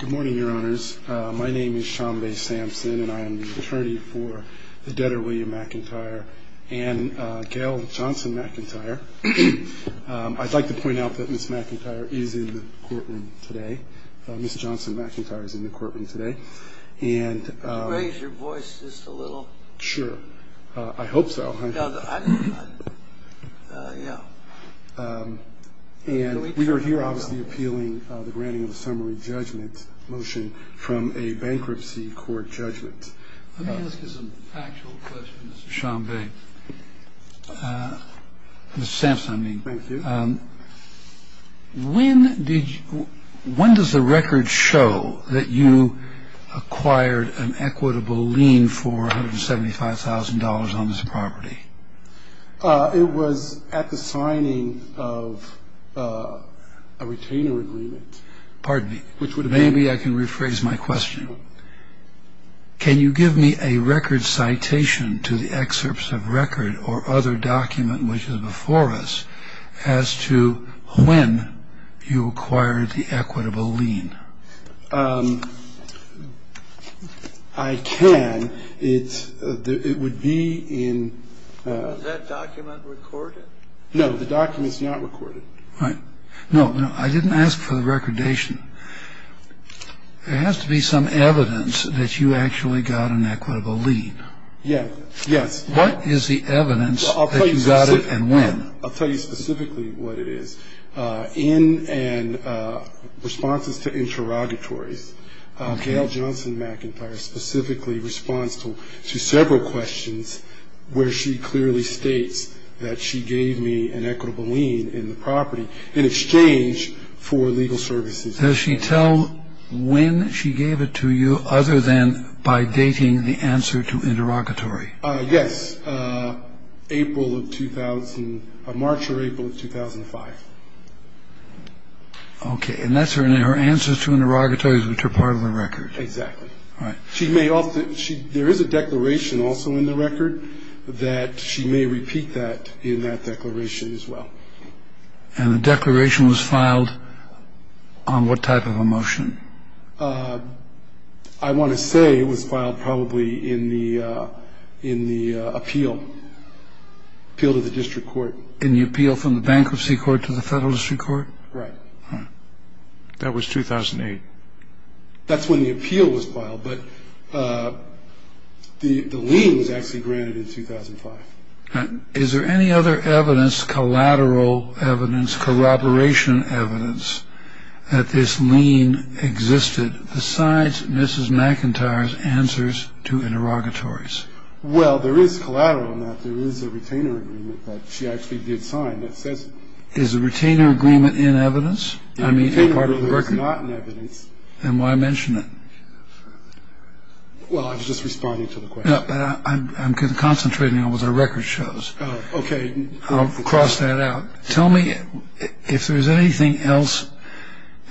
Good morning, your honors. My name is Sean Bay Sampson, and I am the attorney for the debtor William McIntyre and Gail Johnson McIntyre. I'd like to point out that Ms. McIntyre is in the courtroom today. Ms. Johnson McIntyre is in the courtroom today. Could you raise your voice just a little? Sure. I hope so. And we are here obviously appealing the granting of a summary judgment motion from a bankruptcy court judgment. Let me ask you some factual questions, Mr. Sean Bay. Mr. Sampson, I mean. Thank you. When does the record show that you acquired an equitable lien for $175,000 on this property? It was at the signing of a retainer agreement. Pardon me. Which would have been. Maybe I can rephrase my question. Can you give me a record citation to the excerpts of record or other document which is before us as to when you acquired the equitable lien? I can. It would be in. Is that document recorded? No, the document is not recorded. All right. No, I didn't ask for the recordation. There has to be some evidence that you actually got an equitable lien. Yes. What is the evidence that you got it and when? I'll tell you specifically what it is. In responses to interrogatories, Gail Johnson McIntyre specifically responds to several questions where she clearly states that she gave me an equitable lien in the property in exchange for legal services. Does she tell when she gave it to you other than by dating the answer to interrogatory? Yes. April of 2000, March or April of 2005. Okay. And that's her answer to interrogatories which are part of the record. Exactly. All right. She may also. There is a declaration also in the record that she may repeat that in that declaration as well. And the declaration was filed on what type of a motion? I want to say it was filed probably in the appeal, appeal to the district court. In the appeal from the bankruptcy court to the federal district court? Right. That was 2008. That's when the appeal was filed, but the lien was actually granted in 2005. Is there any other evidence, collateral evidence, corroboration evidence, that this lien existed besides Mrs. McIntyre's answers to interrogatories? Well, there is collateral in that. There is a retainer agreement that she actually did sign that says. Is the retainer agreement in evidence? I mean, part of the record. The retainer agreement is not in evidence. Then why mention it? Well, I was just responding to the question. I'm concentrating on what the record shows. Okay. I'll cross that out. Tell me if there's anything else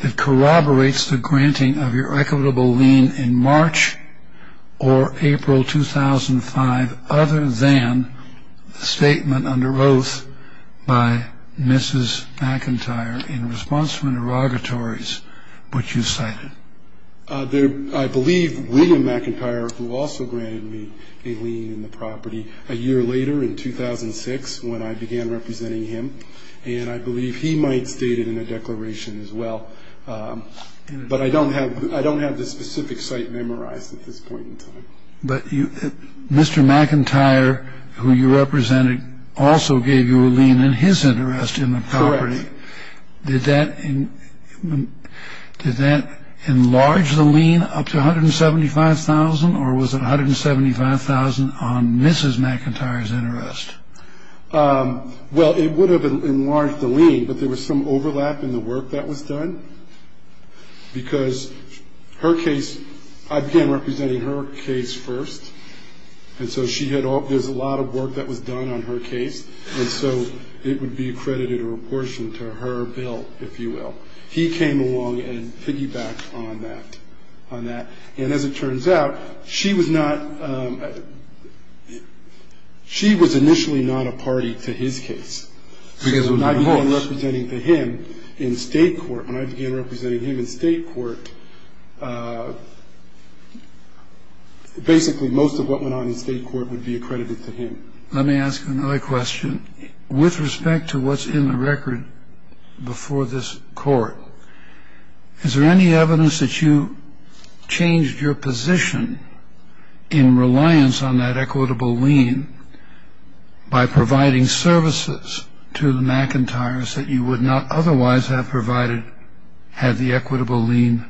that corroborates the granting of your equitable lien in March or April 2005 other than the statement under oath by Mrs. McIntyre in response to interrogatories which you cited. I believe William McIntyre, who also granted me a lien in the property, a year later in 2006 when I began representing him. And I believe he might state it in a declaration as well. But I don't have this specific site memorized at this point in time. But Mr. McIntyre, who you represented, also gave you a lien in his interest in the property. Correct. Did that enlarge the lien up to $175,000, or was it $175,000 on Mrs. McIntyre's interest? Well, it would have enlarged the lien, but there was some overlap in the work that was done. Because her case, I began representing her case first, and so there's a lot of work that was done on her case. And so it would be accredited or apportioned to her bill, if you will. He came along and piggybacked on that. And as it turns out, she was not – she was initially not a party to his case. Because when I began representing him in State court, when I began representing him in State court, basically most of what went on in State court would be accredited to him. Let me ask another question. With respect to what's in the record before this court, is there any evidence that you changed your position in reliance on that equitable lien by providing services to the McIntyres that you would not otherwise have provided had the equitable lien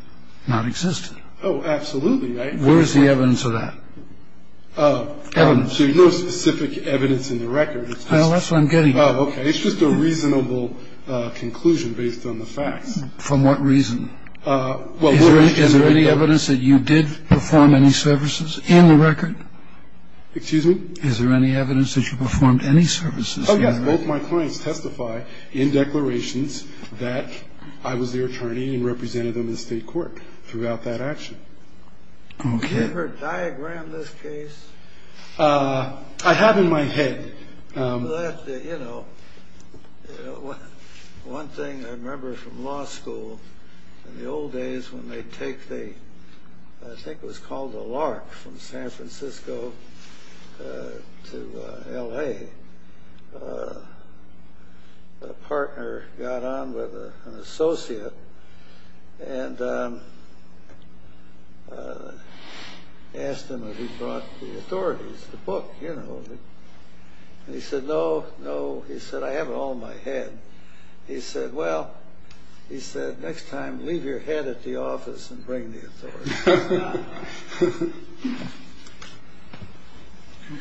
not existed? Oh, absolutely. Where is the evidence of that? So there's no specific evidence in the record. No, that's what I'm getting at. Oh, okay. It's just a reasonable conclusion based on the facts. From what reason? Is there any evidence that you did perform any services in the record? Excuse me? Is there any evidence that you performed any services in the record? Oh, yes. Both my clients testify in declarations that I was their attorney and represented them in State court throughout that action. Okay. Have you ever diagrammed this case? I have in my head. Well, that, you know, one thing I remember from law school, in the old days when they'd take the, I think it was called the LARC from San Francisco to L.A., a partner got on with an associate and asked him if he'd brought the authorities, the book, you know. And he said, no, no. He said, I have it all in my head. He said, well, he said, next time leave your head at the office and bring the authorities.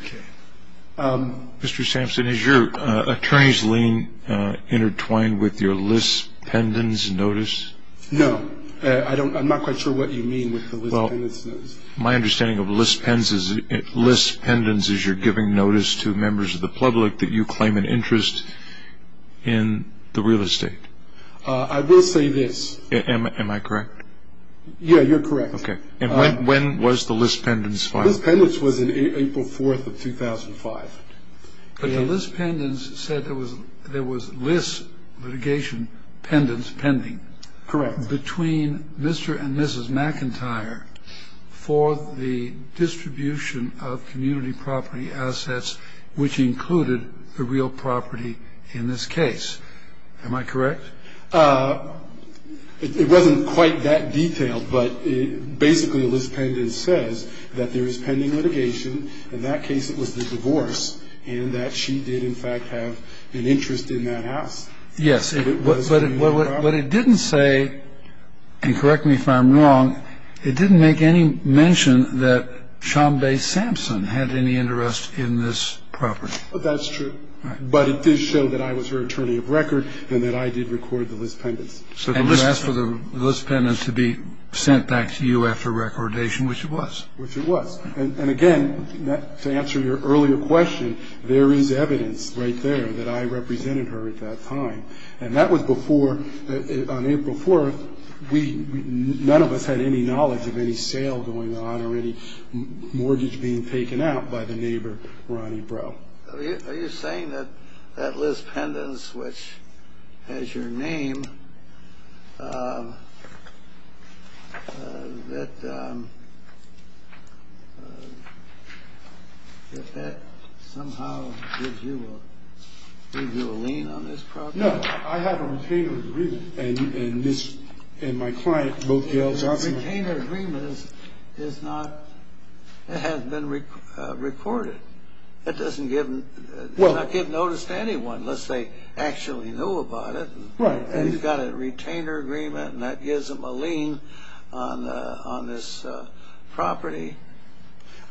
Okay. Mr. Sampson, is your attorney's lien intertwined with your lis pendens notice? No. I'm not quite sure what you mean with the lis pendens notice. Well, my understanding of lis pendens is you're giving notice to members of the public that you claim an interest in the real estate. I will say this. Am I correct? Yeah, you're correct. Okay. And when was the lis pendens filed? The lis pendens was in April 4th of 2005. But the lis pendens said there was lis litigation pendens pending. Correct. Between Mr. and Mrs. McIntyre for the distribution of community property assets, which included the real property in this case. Am I correct? It wasn't quite that detailed, but basically lis pendens says that there is pending litigation. In that case, it was the divorce and that she did, in fact, have an interest in that house. Yes. But it didn't say, and correct me if I'm wrong, it didn't make any mention that Chambay Sampson had any interest in this property. That's true. Right. But it did show that I was her attorney of record and that I did record the lis pendens. And you asked for the lis pendens to be sent back to you after recordation, which it was. Which it was. And, again, to answer your earlier question, there is evidence right there that I represented her at that time. And that was before, on April 4th, none of us had any knowledge of any sale going on or any mortgage being taken out by the neighbor, Ronnie Breaux. Are you saying that that lis pendens, which has your name, that that somehow gives you a lien on this property? No. I have a retainer's agreement. And this and my client both yelled at me. A retainer's agreement has been recorded. It doesn't give notice to anyone unless they actually knew about it. Right. And he's got a retainer's agreement, and that gives him a lien on this property.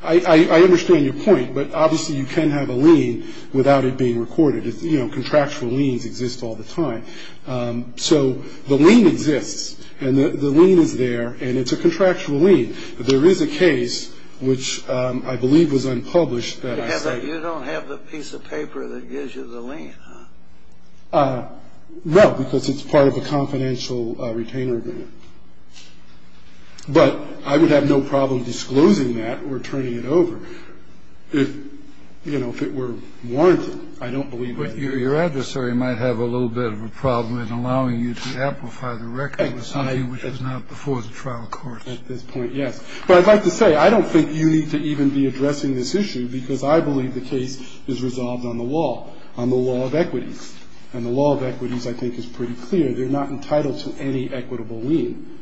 I understand your point, but obviously you can't have a lien without it being recorded. Contractual liens exist all the time. So the lien exists, and the lien is there, and it's a contractual lien. There is a case which I believe was unpublished that I cited. You don't have the piece of paper that gives you the lien, huh? No, because it's part of a confidential retainer agreement. But I would have no problem disclosing that or turning it over if, you know, if it were warranted. I don't believe that. But your adversary might have a little bit of a problem in allowing you to amplify the record of something which was not before the trial court. At this point, yes. But I'd like to say I don't think you need to even be addressing this issue because I believe the case is resolved on the law, on the law of equities. And the law of equities, I think, is pretty clear. They're not entitled to any equitable lien.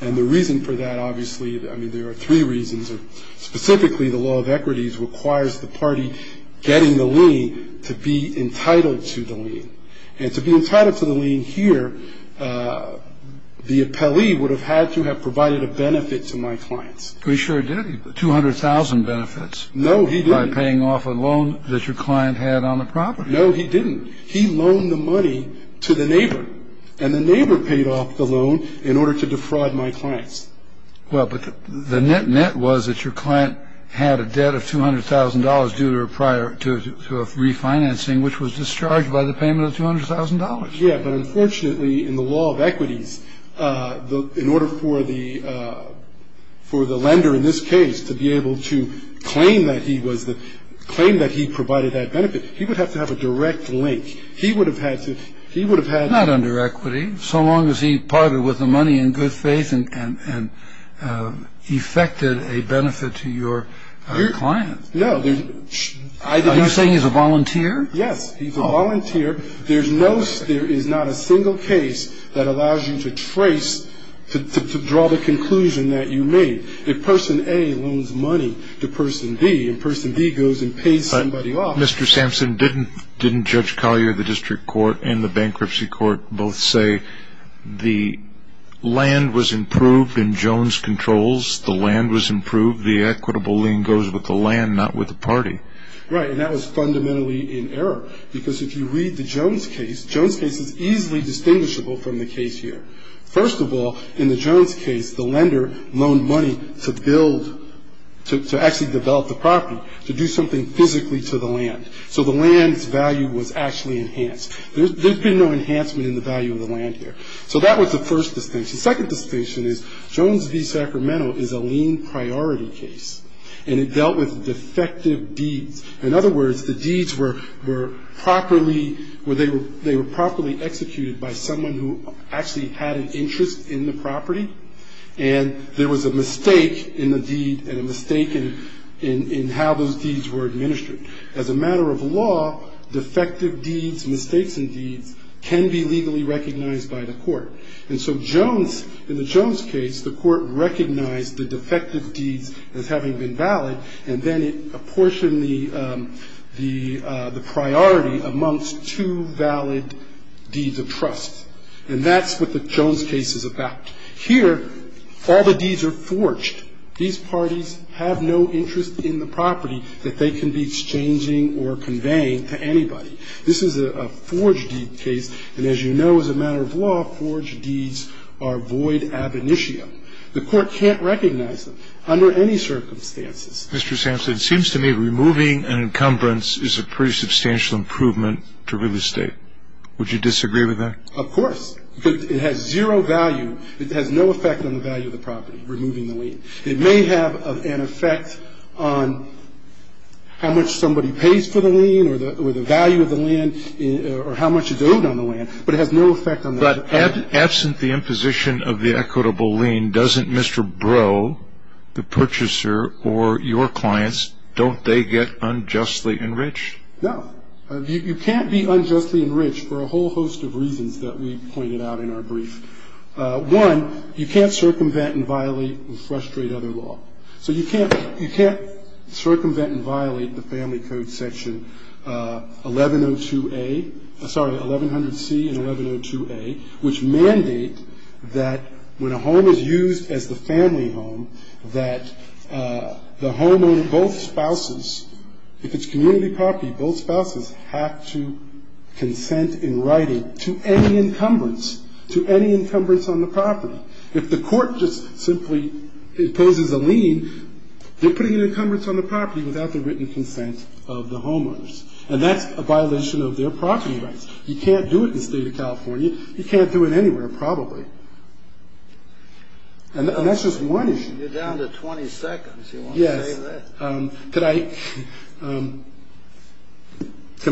And the reason for that, obviously, I mean, there are three reasons. Specifically, the law of equities requires the party getting the lien to be entitled to the lien. And to be entitled to the lien here, the appellee would have had to have provided a benefit to my clients. He sure didn't. 200,000 benefits. No, he didn't. By paying off a loan that your client had on the property. No, he didn't. He loaned the money to the neighbor, and the neighbor paid off the loan in order to defraud my clients. Well, but the net was that your client had a debt of $200,000 due to a refinancing which was discharged by the payment of $200,000. Yeah. But unfortunately, in the law of equities, in order for the lender in this case to be able to claim that he provided that benefit, he would have to have a direct link. He would have had to. He would have had. So long as he parted with the money in good faith and effected a benefit to your client. No. Are you saying he's a volunteer? Yes, he's a volunteer. There is not a single case that allows you to trace, to draw the conclusion that you made. If person A loans money to person B, and person B goes and pays somebody off. Mr. Sampson, didn't Judge Collier of the District Court and the Bankruptcy Court both say the land was improved in Jones' controls? The land was improved. The equitable lien goes with the land, not with the party. Right, and that was fundamentally in error, because if you read the Jones case, Jones' case is easily distinguishable from the case here. First of all, in the Jones case, the lender loaned money to build, to actually develop the property, to do something physically to the land. So the land's value was actually enhanced. There's been no enhancement in the value of the land here. So that was the first distinction. The second distinction is Jones v. Sacramento is a lien priority case, and it dealt with defective deeds. In other words, the deeds were properly executed by someone who actually had an interest in the property, and there was a mistake in the deed and a mistake in how those deeds were administered. As a matter of law, defective deeds, mistakes in deeds, can be legally recognized by the court. And so Jones, in the Jones case, the court recognized the defective deeds as having been valid, and then it apportioned the priority amongst two valid deeds of trust. And that's what the Jones case is about. Here, all the deeds are forged. These parties have no interest in the property that they can be exchanging or conveying to anybody. This is a forged deed case, and as you know, as a matter of law, forged deeds are void ab initio. The court can't recognize them under any circumstances. Mr. Sampson, it seems to me removing an encumbrance is a pretty substantial improvement to real estate. Would you disagree with that? Of course. It has zero value. It has no effect on the value of the property, removing the lien. It may have an effect on how much somebody pays for the lien or the value of the lien or how much is owed on the lien, but it has no effect on that. But absent the imposition of the equitable lien, doesn't Mr. Breaux, the purchaser, or your clients, don't they get unjustly enriched? No. You can't be unjustly enriched for a whole host of reasons that we pointed out in our brief. One, you can't circumvent and violate and frustrate other law. So you can't circumvent and violate the Family Code section 1102A, sorry, 1100C and 1102A, which mandate that when a home is used as the family home, that the home of both spouses, if it's community property, both spouses have to consent in writing to any encumbrance, to any encumbrance on the property. If the court just simply imposes a lien, they're putting an encumbrance on the property without the written consent of the homeowners. And that's a violation of their property rights. You can't do it in the state of California. You can't do it anywhere, probably. And that's just one issue. You're down to 20 seconds. Yes. Can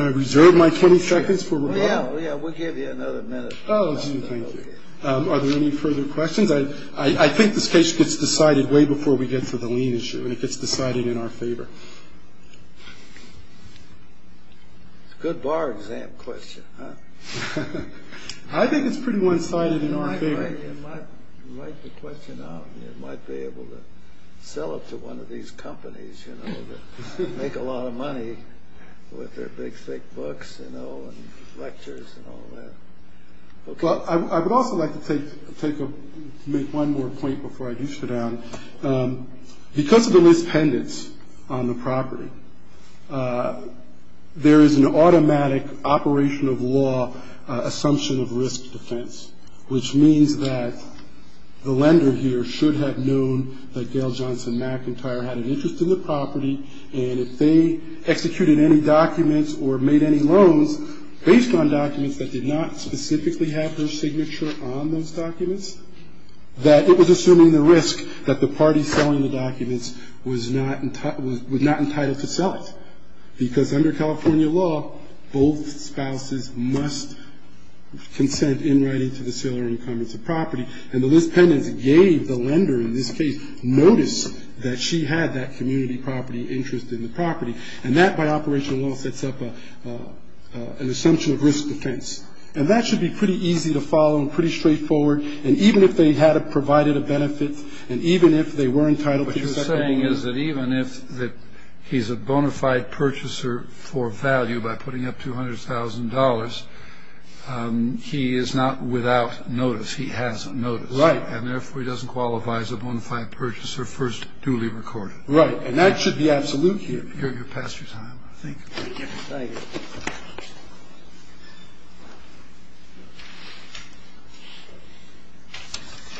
I reserve my 20 seconds for rebuttal? Yeah, we'll give you another minute. Oh, thank you. Are there any further questions? I think this case gets decided way before we get to the lien issue, and it gets decided in our favor. It's a good bar exam question, huh? I think it's pretty one-sided in our favor. You might write the question out, and you might be able to sell it to one of these companies, you know, that make a lot of money with their big, thick books, you know, and lectures and all that. I would also like to make one more point before I do sit down. Because of the mispendants on the property, there is an automatic operation of law assumption of risk defense, which means that the lender here should have known that Gail Johnson McIntyre had an interest in the property, and if they executed any documents or made any loans based on documents that did not specifically have her signature on those documents, that it was assuming the risk that the party selling the documents was not entitled to sell it. Because under California law, both spouses must consent in writing to the sale or income of the property. And the mispendants gave the lender in this case notice that she had that community property interest in the property. And that, by operation of law, sets up an assumption of risk defense. And that should be pretty easy to follow and pretty straightforward. And even if they had provided a benefit, and even if they were entitled to the second loan. The thing is that even if he's a bona fide purchaser for value by putting up $200,000, he is not without notice. He has notice. Right. And therefore he doesn't qualify as a bona fide purchaser first duly recorded. Right. And that should be absolute here. You're past your time, I think. Thank you. Thank you.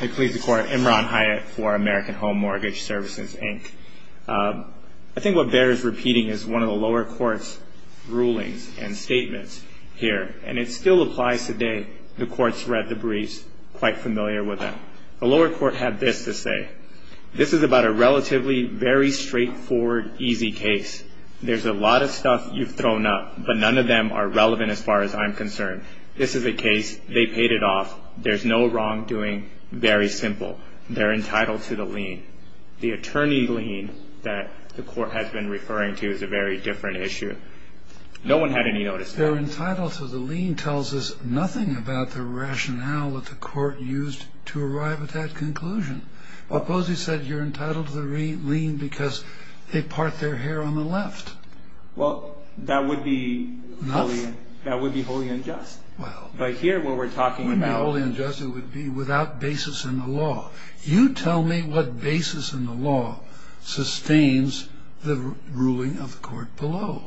I plead the court. Imran Hyatt for American Home Mortgage Services, Inc. I think what bears repeating is one of the lower court's rulings and statements here. And it still applies today. The court's read the briefs, quite familiar with them. The lower court had this to say. This is about a relatively very straightforward, easy case. There's a lot of stuff you've thrown up. But none of them are relevant as far as I'm concerned. This is a case. They paid it off. There's no wrongdoing. Very simple. They're entitled to the lien. The attorney lien that the court has been referring to is a very different issue. No one had any notice. They're entitled to the lien tells us nothing about the rationale that the court used to arrive at that conclusion. Well, Posey said you're entitled to the lien because they part their hair on the left. Well, that would be wholly unjust. Well. But here what we're talking about. It wouldn't be wholly unjust. It would be without basis in the law. You tell me what basis in the law sustains the ruling of the court below.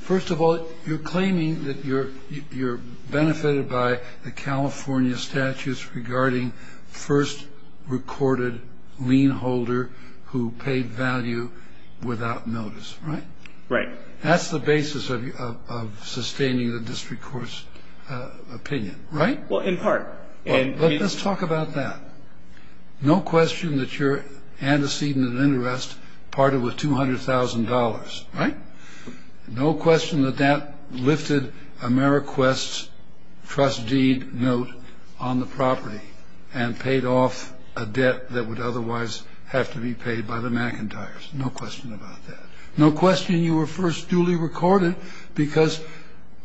First of all, you're claiming that you're benefited by the California statutes regarding first recorded lien holder who paid value without notice. Right. Right. That's the basis of sustaining the district court's opinion. Right. Well, in part. Let's talk about that. No question that your antecedent of interest parted with $200,000. Right. No question that that lifted Ameriquest's trust deed note on the property and paid off a debt that would otherwise have to be paid by the McIntyres. No question about that. No question you were first duly recorded because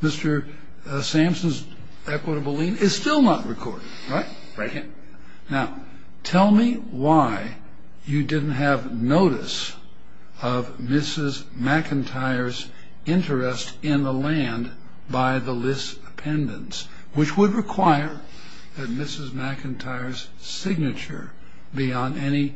Mr. Samson's equitable lien is still not recorded. Right. Right. Now, tell me why you didn't have notice of Mrs. McIntyre's interest in the land by the list pendants, which would require Mrs. McIntyre's signature beyond any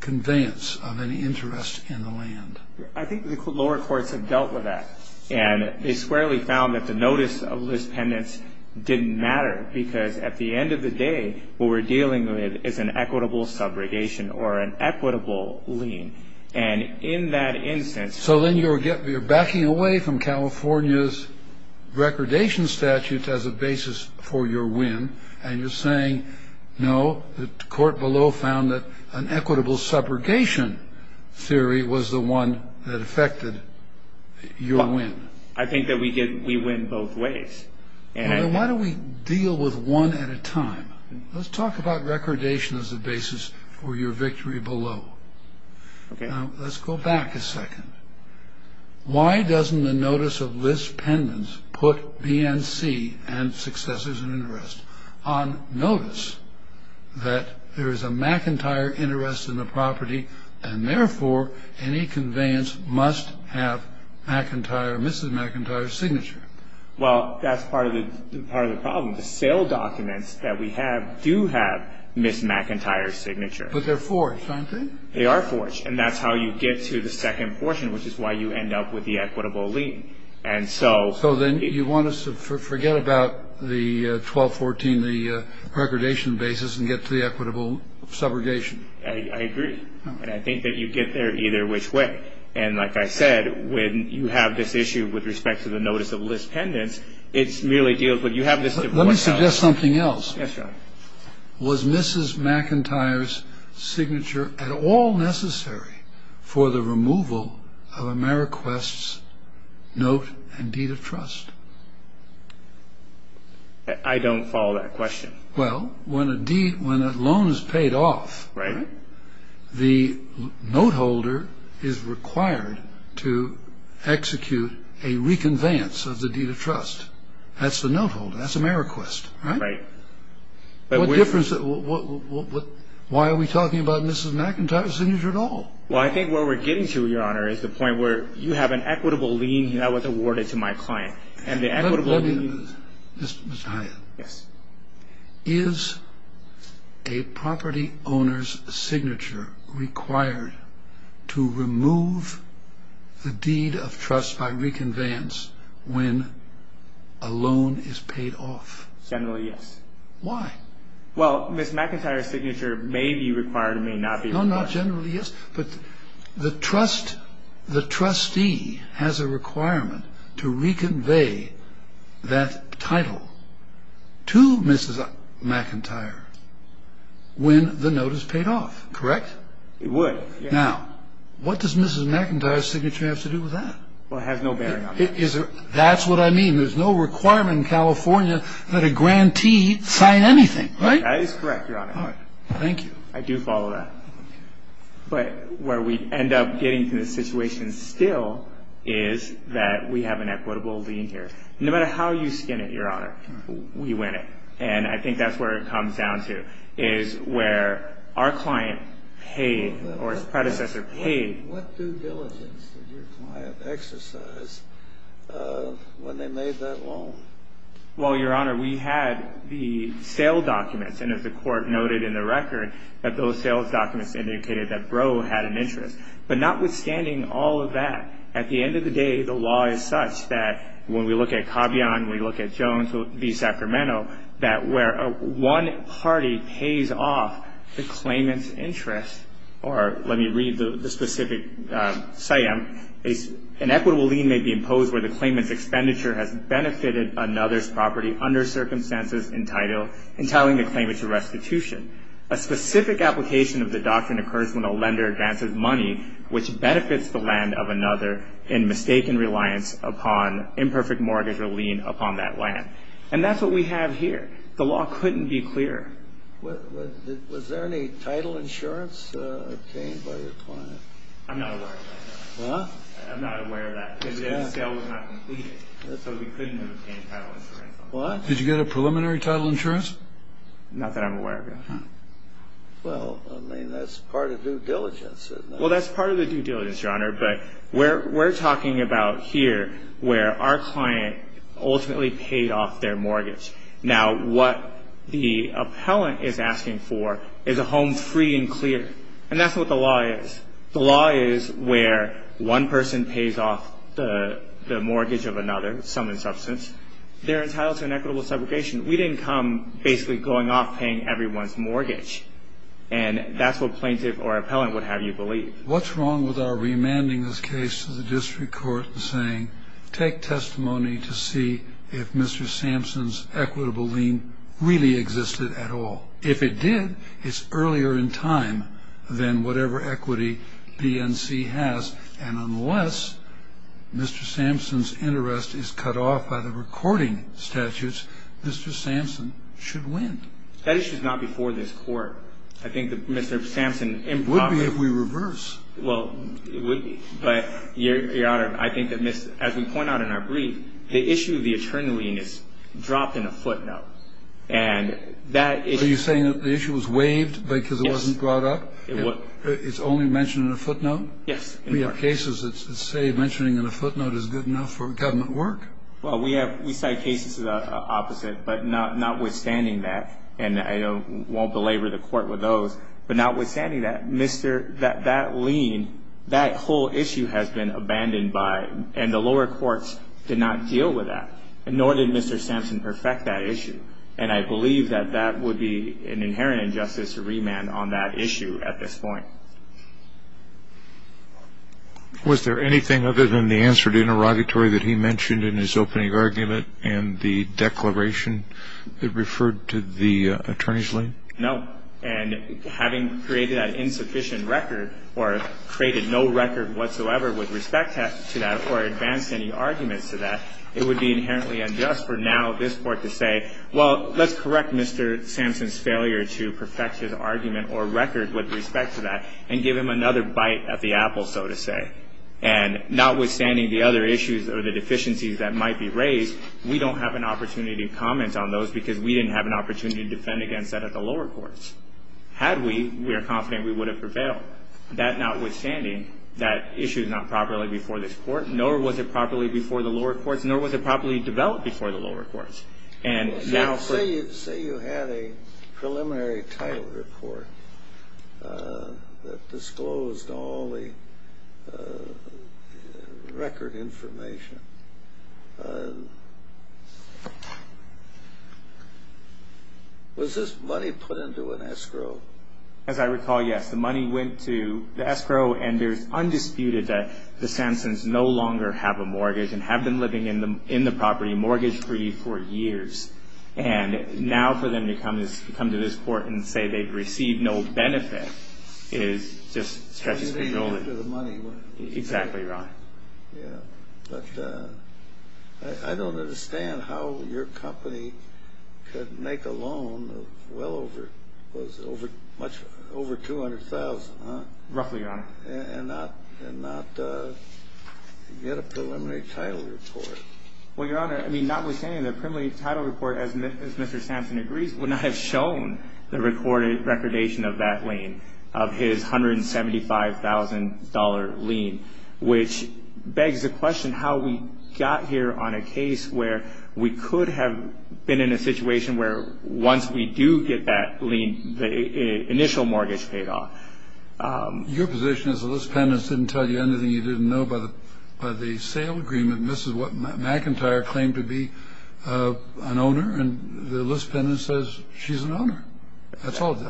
conveyance of any interest in the land. I think the lower courts have dealt with that. And they squarely found that the notice of list pendants didn't matter because at the end of the day, what we're dealing with is an equitable subrogation or an equitable lien. And in that instance. You're backing away from California's recordation statute as a basis for your win. And you're saying, no, the court below found that an equitable subrogation theory was the one that affected your win. I think that we did. We win both ways. And why don't we deal with one at a time? Let's talk about recordation as a basis for your victory below. OK. Let's go back a second. Why doesn't the notice of list pendants put BNC and successors in interest on notice that there is a McIntyre interest in the property and therefore any conveyance must have McIntyre, Mrs. McIntyre's signature? Well, that's part of the problem. The sale documents that we have do have Mrs. McIntyre's signature. But they're forged, aren't they? They are forged. And that's how you get to the second portion, which is why you end up with the equitable lien. And so. So then you want us to forget about the 1214, the recordation basis and get to the equitable subrogation. I agree. And I think that you get there either which way. And like I said, when you have this issue with respect to the notice of list pendants, it's merely deals with you have this. Let me suggest something else. Yes, sir. Was Mrs. McIntyre's signature at all necessary for the removal of Ameriquest's note and deed of trust? I don't follow that question. Well, when a loan is paid off. Right. The note holder is required to execute a reconveyance of the deed of trust. That's the note holder. That's Ameriquest. Right. What difference? Why are we talking about Mrs. McIntyre's signature at all? Well, I think where we're getting to, Your Honor, is the point where you have an equitable lien that was awarded to my client. Mr. Hyatt. Yes. Is a property owner's signature required to remove the deed of trust by reconveyance when a loan is paid off? Generally, yes. Well, Mrs. McIntyre's signature may be required or may not be required. No, not generally, yes. But the trustee has a requirement to reconvey that title to Mrs. McIntyre when the note is paid off. Correct? It would. Now, what does Mrs. McIntyre's signature have to do with that? Well, it has no bearing on it. That's what I mean. There's no requirement in California that a grantee sign anything. Right? That is correct, Your Honor. Thank you. I do follow that. But where we end up getting to the situation still is that we have an equitable lien here. No matter how you skin it, Your Honor, we win it. And I think that's where it comes down to is where our client paid or his predecessor paid. What due diligence did your client exercise when they made that loan? Well, Your Honor, we had the sale documents. And as the Court noted in the record, that those sales documents indicated that Brough had an interest. But notwithstanding all of that, at the end of the day, the law is such that when we look at Cavian, we look at Jones v. Sacramento, that where one party pays off the claimant's interest, or let me read the specific site, an equitable lien may be imposed where the claimant's expenditure has benefited another's property under circumstances entitling the claimant to restitution. A specific application of the doctrine occurs when a lender advances money which benefits the land of another in mistaken reliance upon imperfect mortgage or lien upon that land. And that's what we have here. The law couldn't be clearer. Was there any title insurance obtained by your client? I'm not aware of that. What? I'm not aware of that because the sale was not completed. So we couldn't have obtained title insurance. What? Did you get a preliminary title insurance? Not that I'm aware of, no. Well, I mean, that's part of due diligence, isn't it? Well, that's part of the due diligence, Your Honor, but we're talking about here where our client ultimately paid off their mortgage. Now, what the appellant is asking for is a home free and clear. And that's what the law is. The law is where one person pays off the mortgage of another, some in substance. They're entitled to an equitable separation. We didn't come basically going off paying everyone's mortgage, and that's what plaintiff or appellant would have you believe. What's wrong with our remanding this case to the district court and saying, take testimony to see if Mr. Sampson's equitable lien really existed at all? If it did, it's earlier in time than whatever equity BNC has, and unless Mr. Sampson's interest is cut off by the recording statutes, Mr. Sampson should win. That issue is not before this Court. I think that Mr. Sampson improperly ---- It would be if we reverse. Well, it would be. But, Your Honor, I think that as we point out in our brief, the issue of the eternal lien is dropped in a footnote. Are you saying that the issue was waived because it wasn't brought up? Yes. It's only mentioned in a footnote? Yes. We have cases that say mentioning in a footnote is good enough for government work. Well, we cite cases of the opposite, but notwithstanding that, and I won't belabor the Court with those, but notwithstanding that, that lien, that whole issue has been abandoned, and the lower courts did not deal with that, nor did Mr. Sampson perfect that issue, and I believe that that would be an inherent injustice to remand on that issue at this point. Was there anything other than the answered interrogatory that he mentioned in his opening argument and the declaration that referred to the attorney's lien? No. And having created that insufficient record or created no record whatsoever with respect to that or advanced any arguments to that, it would be inherently unjust for now this Court to say, well, let's correct Mr. Sampson's failure to perfect his argument or record with respect to that and give him another bite at the apple, so to say. And notwithstanding the other issues or the deficiencies that might be raised, we don't have an opportunity to comment on those because we didn't have an opportunity to defend against that at the lower courts. Had we, we are confident we would have prevailed. That notwithstanding, that issue is not properly before this Court, nor was it properly before the lower courts, nor was it properly developed before the lower courts. Say you had a preliminary title report that disclosed all the record information. Was this money put into an escrow? As I recall, yes. The money went to the escrow, and there's undisputed that the Sampsons no longer have a mortgage and have been living in the property mortgage-free for years. And now for them to come to this Court and say they've received no benefit is just stretches for no one. Exactly right. Yeah, but I don't understand how your company could make a loan of well over, over 200,000, huh? Roughly, Your Honor. And not get a preliminary title report. Well, Your Honor, I mean, notwithstanding the preliminary title report, as Mr. Sampson agrees, would not have shown the recordation of that lien, of his $175,000 lien, which begs the question how we got here on a case where we could have been in a situation where once we do get that lien, the initial mortgage paid off. Your position is the list pendant didn't tell you anything you didn't know about the sale agreement. Mrs. McIntyre claimed to be an owner, and the list pendant says she's an owner. That's all it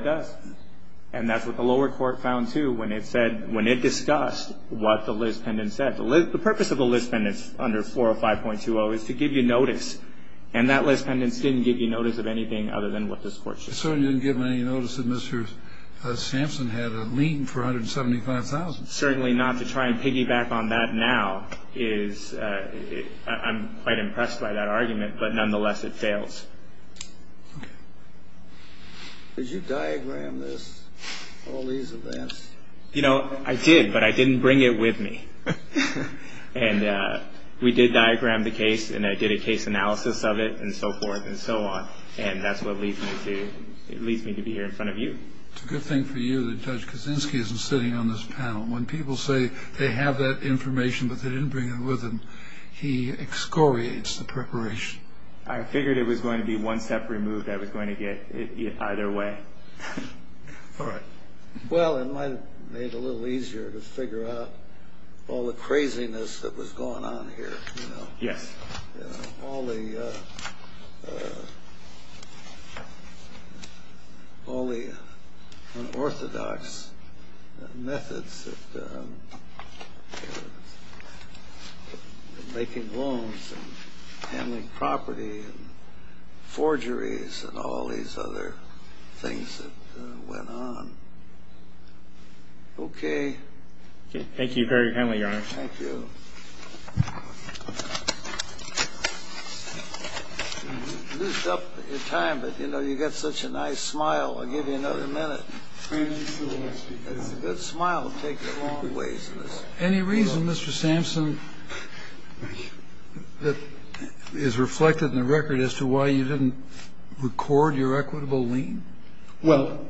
does. And that's what the lower court found, too, when it said, when it discussed what the list pendant said. The purpose of the list pendant under 405.20 is to give you notice, and that list pendant didn't give you notice of anything other than what this Court should have. It certainly didn't give them any notice that Mr. Sampson had a lien for $175,000. Certainly not to try and piggyback on that now is, I'm quite impressed by that argument, but nonetheless it fails. Okay. Did you diagram this, all these events? You know, I did, but I didn't bring it with me. And we did diagram the case, and I did a case analysis of it and so forth and so on, and that's what leads me to be here in front of you. It's a good thing for you that Judge Kaczynski isn't sitting on this panel. When people say they have that information but they didn't bring it with them, he excoriates the preparation. I figured it was going to be one step removed I was going to get either way. All right. Well, it might have made it a little easier to figure out all the craziness that was going on here. Yes. All the unorthodox methods of making loans and handling property and forgeries and all these other things that went on. Okay. Thank you very kindly, Your Honor. Thank you. I appreciate it. Thank you. I appreciate it. You loosed up your time, but, you know, you got such a nice smile. I'll give you another minute. It's a good smile. It takes you a long ways. Any reason, Mr. Sampson, that is reflected in the record as to why you didn't record your equitable lien? Well,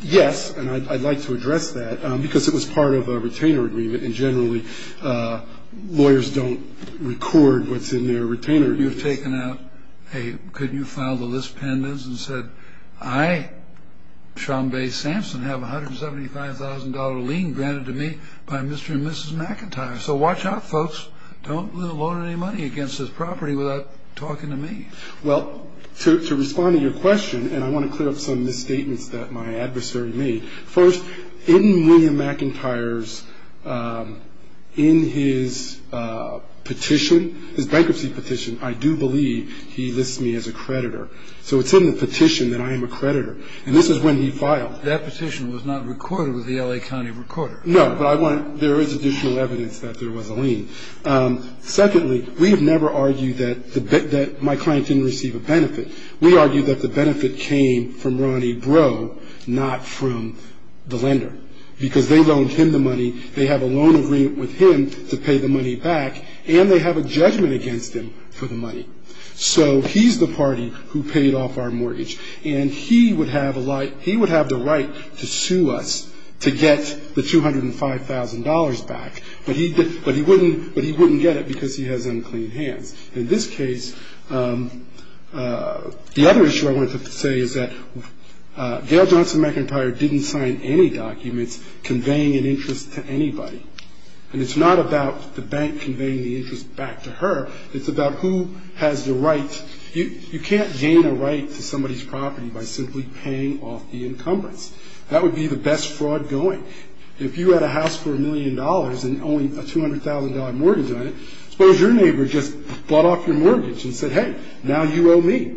yes, and I'd like to address that because it was part of a retainer agreement, and generally lawyers don't record what's in their retainer agreement. You've taken out a, could you file the list pendants and said, I, Sean Bay Sampson, have a $175,000 lien granted to me by Mr. and Mrs. McIntyre. So watch out, folks. Don't loan any money against this property without talking to me. Well, to respond to your question, and I want to clear up some misstatements that my adversary made. First, in William McIntyre's, in his petition, his bankruptcy petition, I do believe he lists me as a creditor. So it's in the petition that I am a creditor, and this is when he filed. That petition was not recorded with the L.A. County Recorder. No, but I want, there is additional evidence that there was a lien. Secondly, we have never argued that my client didn't receive a benefit. We argued that the benefit came from Ronnie Breaux, not from the lender, because they loaned him the money. They have a loan agreement with him to pay the money back, and they have a judgment against him for the money. So he's the party who paid off our mortgage, and he would have the right to sue us to get the $205,000 back, but he wouldn't get it because he has unclean hands. In this case, the other issue I wanted to say is that Gail Johnson McIntyre didn't sign any documents conveying an interest to anybody, and it's not about the bank conveying the interest back to her. It's about who has the right. You can't gain a right to somebody's property by simply paying off the encumbrance. That would be the best fraud going. If you had a house for a million dollars and only a $200,000 mortgage on it, suppose your neighbor just bought off your mortgage and said, hey, now you owe me.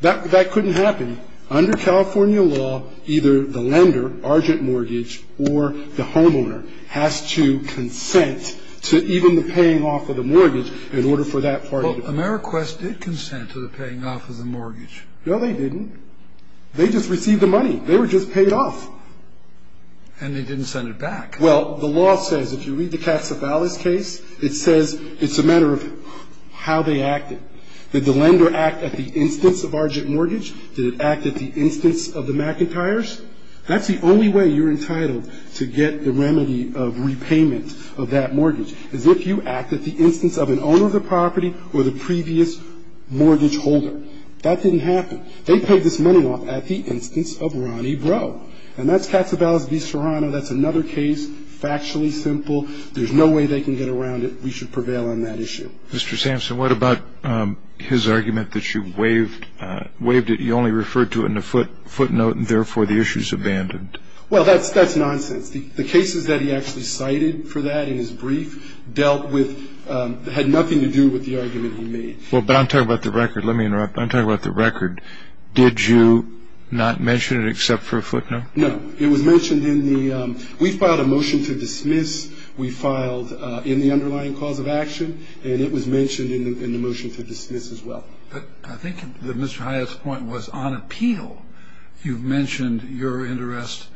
That couldn't happen. Under California law, either the lender, argent mortgage, or the homeowner has to consent to even the paying off of the mortgage in order for that party to pay. Well, Ameriquest did consent to the paying off of the mortgage. They just received the money. They were just paid off. And they didn't send it back. Well, the law says, if you read the Casa Valles case, it says it's a matter of how they acted. Did the lender act at the instance of argent mortgage? Did it act at the instance of the McIntyres? That's the only way you're entitled to get the remedy of repayment of that mortgage, is if you act at the instance of an owner of the property or the previous mortgage holder. That didn't happen. They paid this money off at the instance of Ronnie Breaux. And that's Casa Valles v. Serrano. That's another case, factually simple. There's no way they can get around it. We should prevail on that issue. Mr. Sampson, what about his argument that you waived it? You only referred to it in a footnote and, therefore, the issue's abandoned. Well, that's nonsense. The cases that he actually cited for that in his brief dealt with ñ had nothing to do with the argument he made. Well, but I'm talking about the record. Let me interrupt. I'm talking about the record. Did you not mention it except for a footnote? No. It was mentioned in the ñ we filed a motion to dismiss. We filed in the underlying cause of action, and it was mentioned in the motion to dismiss as well. But I think that Mr. Hyatt's point was on appeal, you've mentioned your interest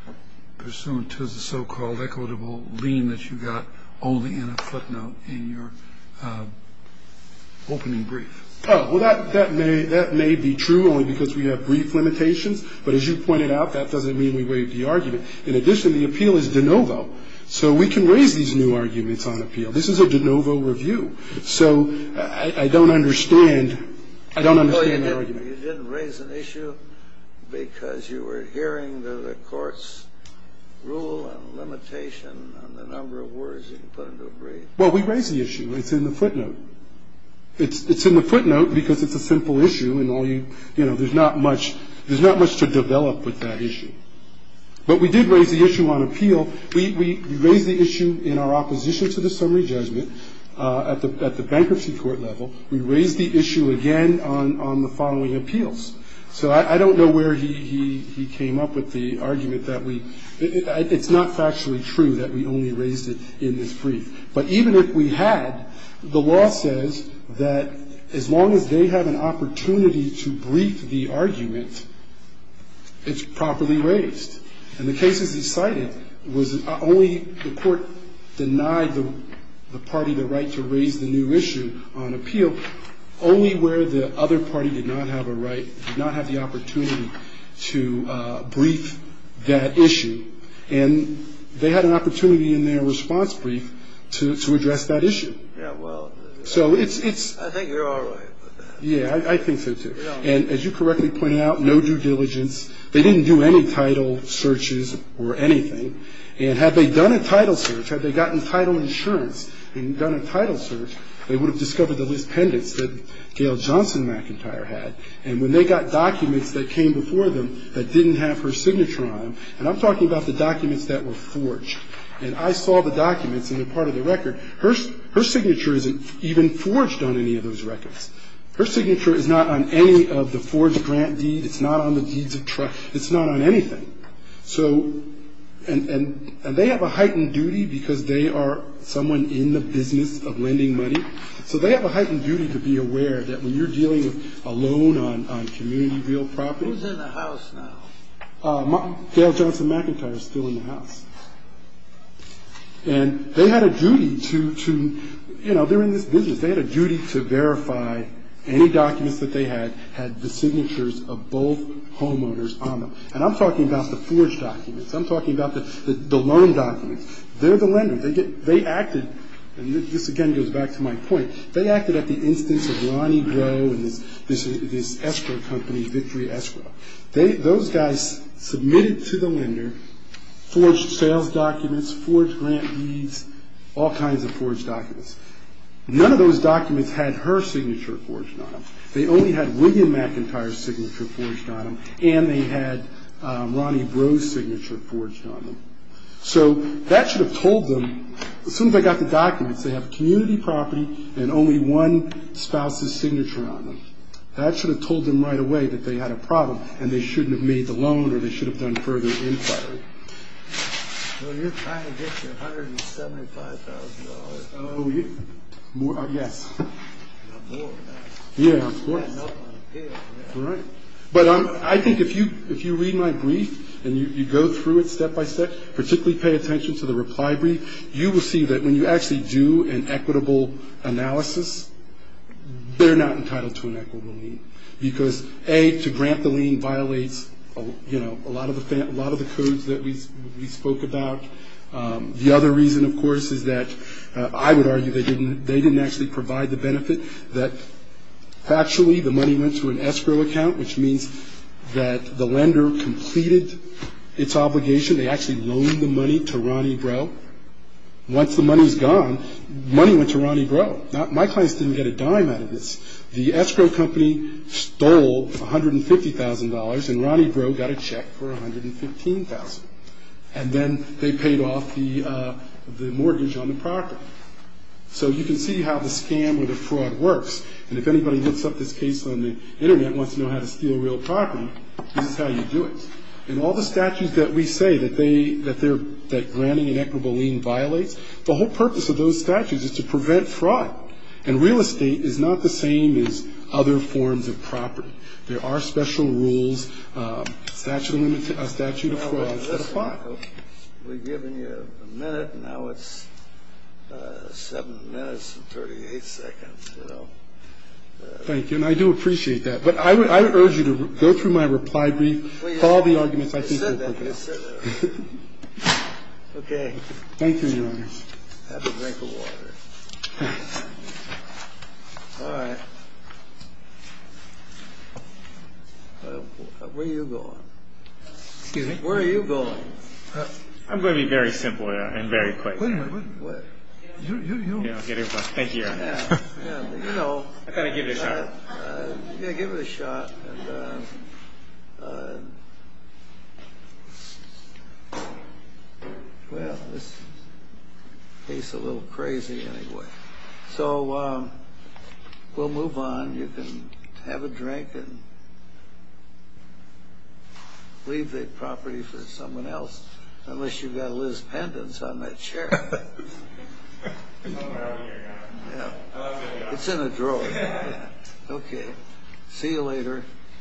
pursuant to the so-called equitable lien that you got only in a footnote in your opening brief. Oh, well, that may be true only because we have brief limitations. But as you pointed out, that doesn't mean we waived the argument. In addition, the appeal is de novo. So we can raise these new arguments on appeal. This is a de novo review. So I don't understand ñ I don't understand the argument. Well, you didn't raise an issue because you were adhering to the court's rule and limitation on the number of words you put into a brief. Well, we raised the issue. It's in the footnote. It's in the footnote because it's a simple issue and all you ñ you know, there's not much ñ there's not much to develop with that issue. But we did raise the issue on appeal. We raised the issue in our opposition to the summary judgment at the bankruptcy court level. We raised the issue again on the following appeals. So I don't know where he came up with the argument that we ñ it's not factually true that we only raised it in this brief. But even if we had, the law says that as long as they have an opportunity to brief the argument, it's properly raised. And the cases he cited was only ñ the court denied the party the right to raise the new issue on appeal only where the other party did not have a right, did not have the opportunity to brief that issue. And they had an opportunity in their response brief to address that issue. Yeah, well ñ So it's ñ I think you're all right with that. Yeah, I think so too. And as you correctly pointed out, no due diligence. They didn't do any title searches or anything. And had they done a title search, had they gotten title insurance and done a title search, they would have discovered the list pendants that Gayle Johnson McIntyre had. And when they got documents that came before them that didn't have her signature on them, and I'm talking about the documents that were forged, and I saw the documents and they're part of the record, her signature isn't even forged on any of those records. Her signature is not on any of the forged grant deed. It's not on the deeds of trust. It's not on anything. So ñ and they have a heightened duty because they are someone in the business of lending money. So they have a heightened duty to be aware that when you're dealing with a loan on community real property ñ Who's in the house now? Gayle Johnson McIntyre is still in the house. And they had a duty to ñ you know, they're in this business. They had a duty to verify any documents that they had had the signatures of both homeowners on them. And I'm talking about the forged documents. I'm talking about the loan documents. They're the lender. They acted ñ and this, again, goes back to my point. They acted at the instance of Ronnie Grow and this escrow company, Victory Escrow. Those guys submitted to the lender forged sales documents, forged grant deeds, all kinds of forged documents. None of those documents had her signature forged on them. They only had William McIntyre's signature forged on them. And they had Ronnie Grow's signature forged on them. So that should have told them, as soon as they got the documents, they have community property and only one spouse's signature on them. That should have told them right away that they had a problem and they shouldn't have made the loan or they should have done further inquiry. Well, you're trying to get your $175,000. Oh, yes. Not more. Yeah, of course. Right. But I think if you read my brief and you go through it step by step, particularly pay attention to the reply brief, you will see that when you actually do an equitable analysis, they're not entitled to an equitable lien. Because, A, to grant the lien violates, you know, a lot of the codes that we spoke about. The other reason, of course, is that I would argue they didn't actually provide the benefit, that actually the money went to an escrow account, which means that the lender completed its obligation. They actually loaned the money to Ronnie Breaux. Once the money was gone, money went to Ronnie Breaux. My clients didn't get a dime out of this. The escrow company stole $150,000, and Ronnie Breaux got a check for $115,000. And then they paid off the mortgage on the property. So you can see how the scam or the fraud works. And if anybody looks up this case on the Internet and wants to know how to steal real property, this is how you do it. In all the statutes that we say that granting an equitable lien violates, the whole purpose of those statutes is to prevent fraud. And real estate is not the same as other forms of property. There are special rules, statute of frauds that apply. We've given you a minute, and now it's seven minutes and 38 seconds. Thank you, and I do appreciate that. But I would urge you to go through my reply brief, follow the arguments I think are appropriate. Okay. Thank you, Your Honor. Have a drink of water. All right. Where are you going? Excuse me? Where are you going? I'm going to be very simple and very quick. Wait a minute. You, you, you. Thank you, Your Honor. You know. I've got to give it a shot. Yeah, give it a shot. Well, this case is a little crazy anyway. So, we'll move on. You can have a drink and leave the property for someone else, unless you've got Liz Pendence on that chair. Thank you, Your Honor. It's in the drawer. Okay. See you later.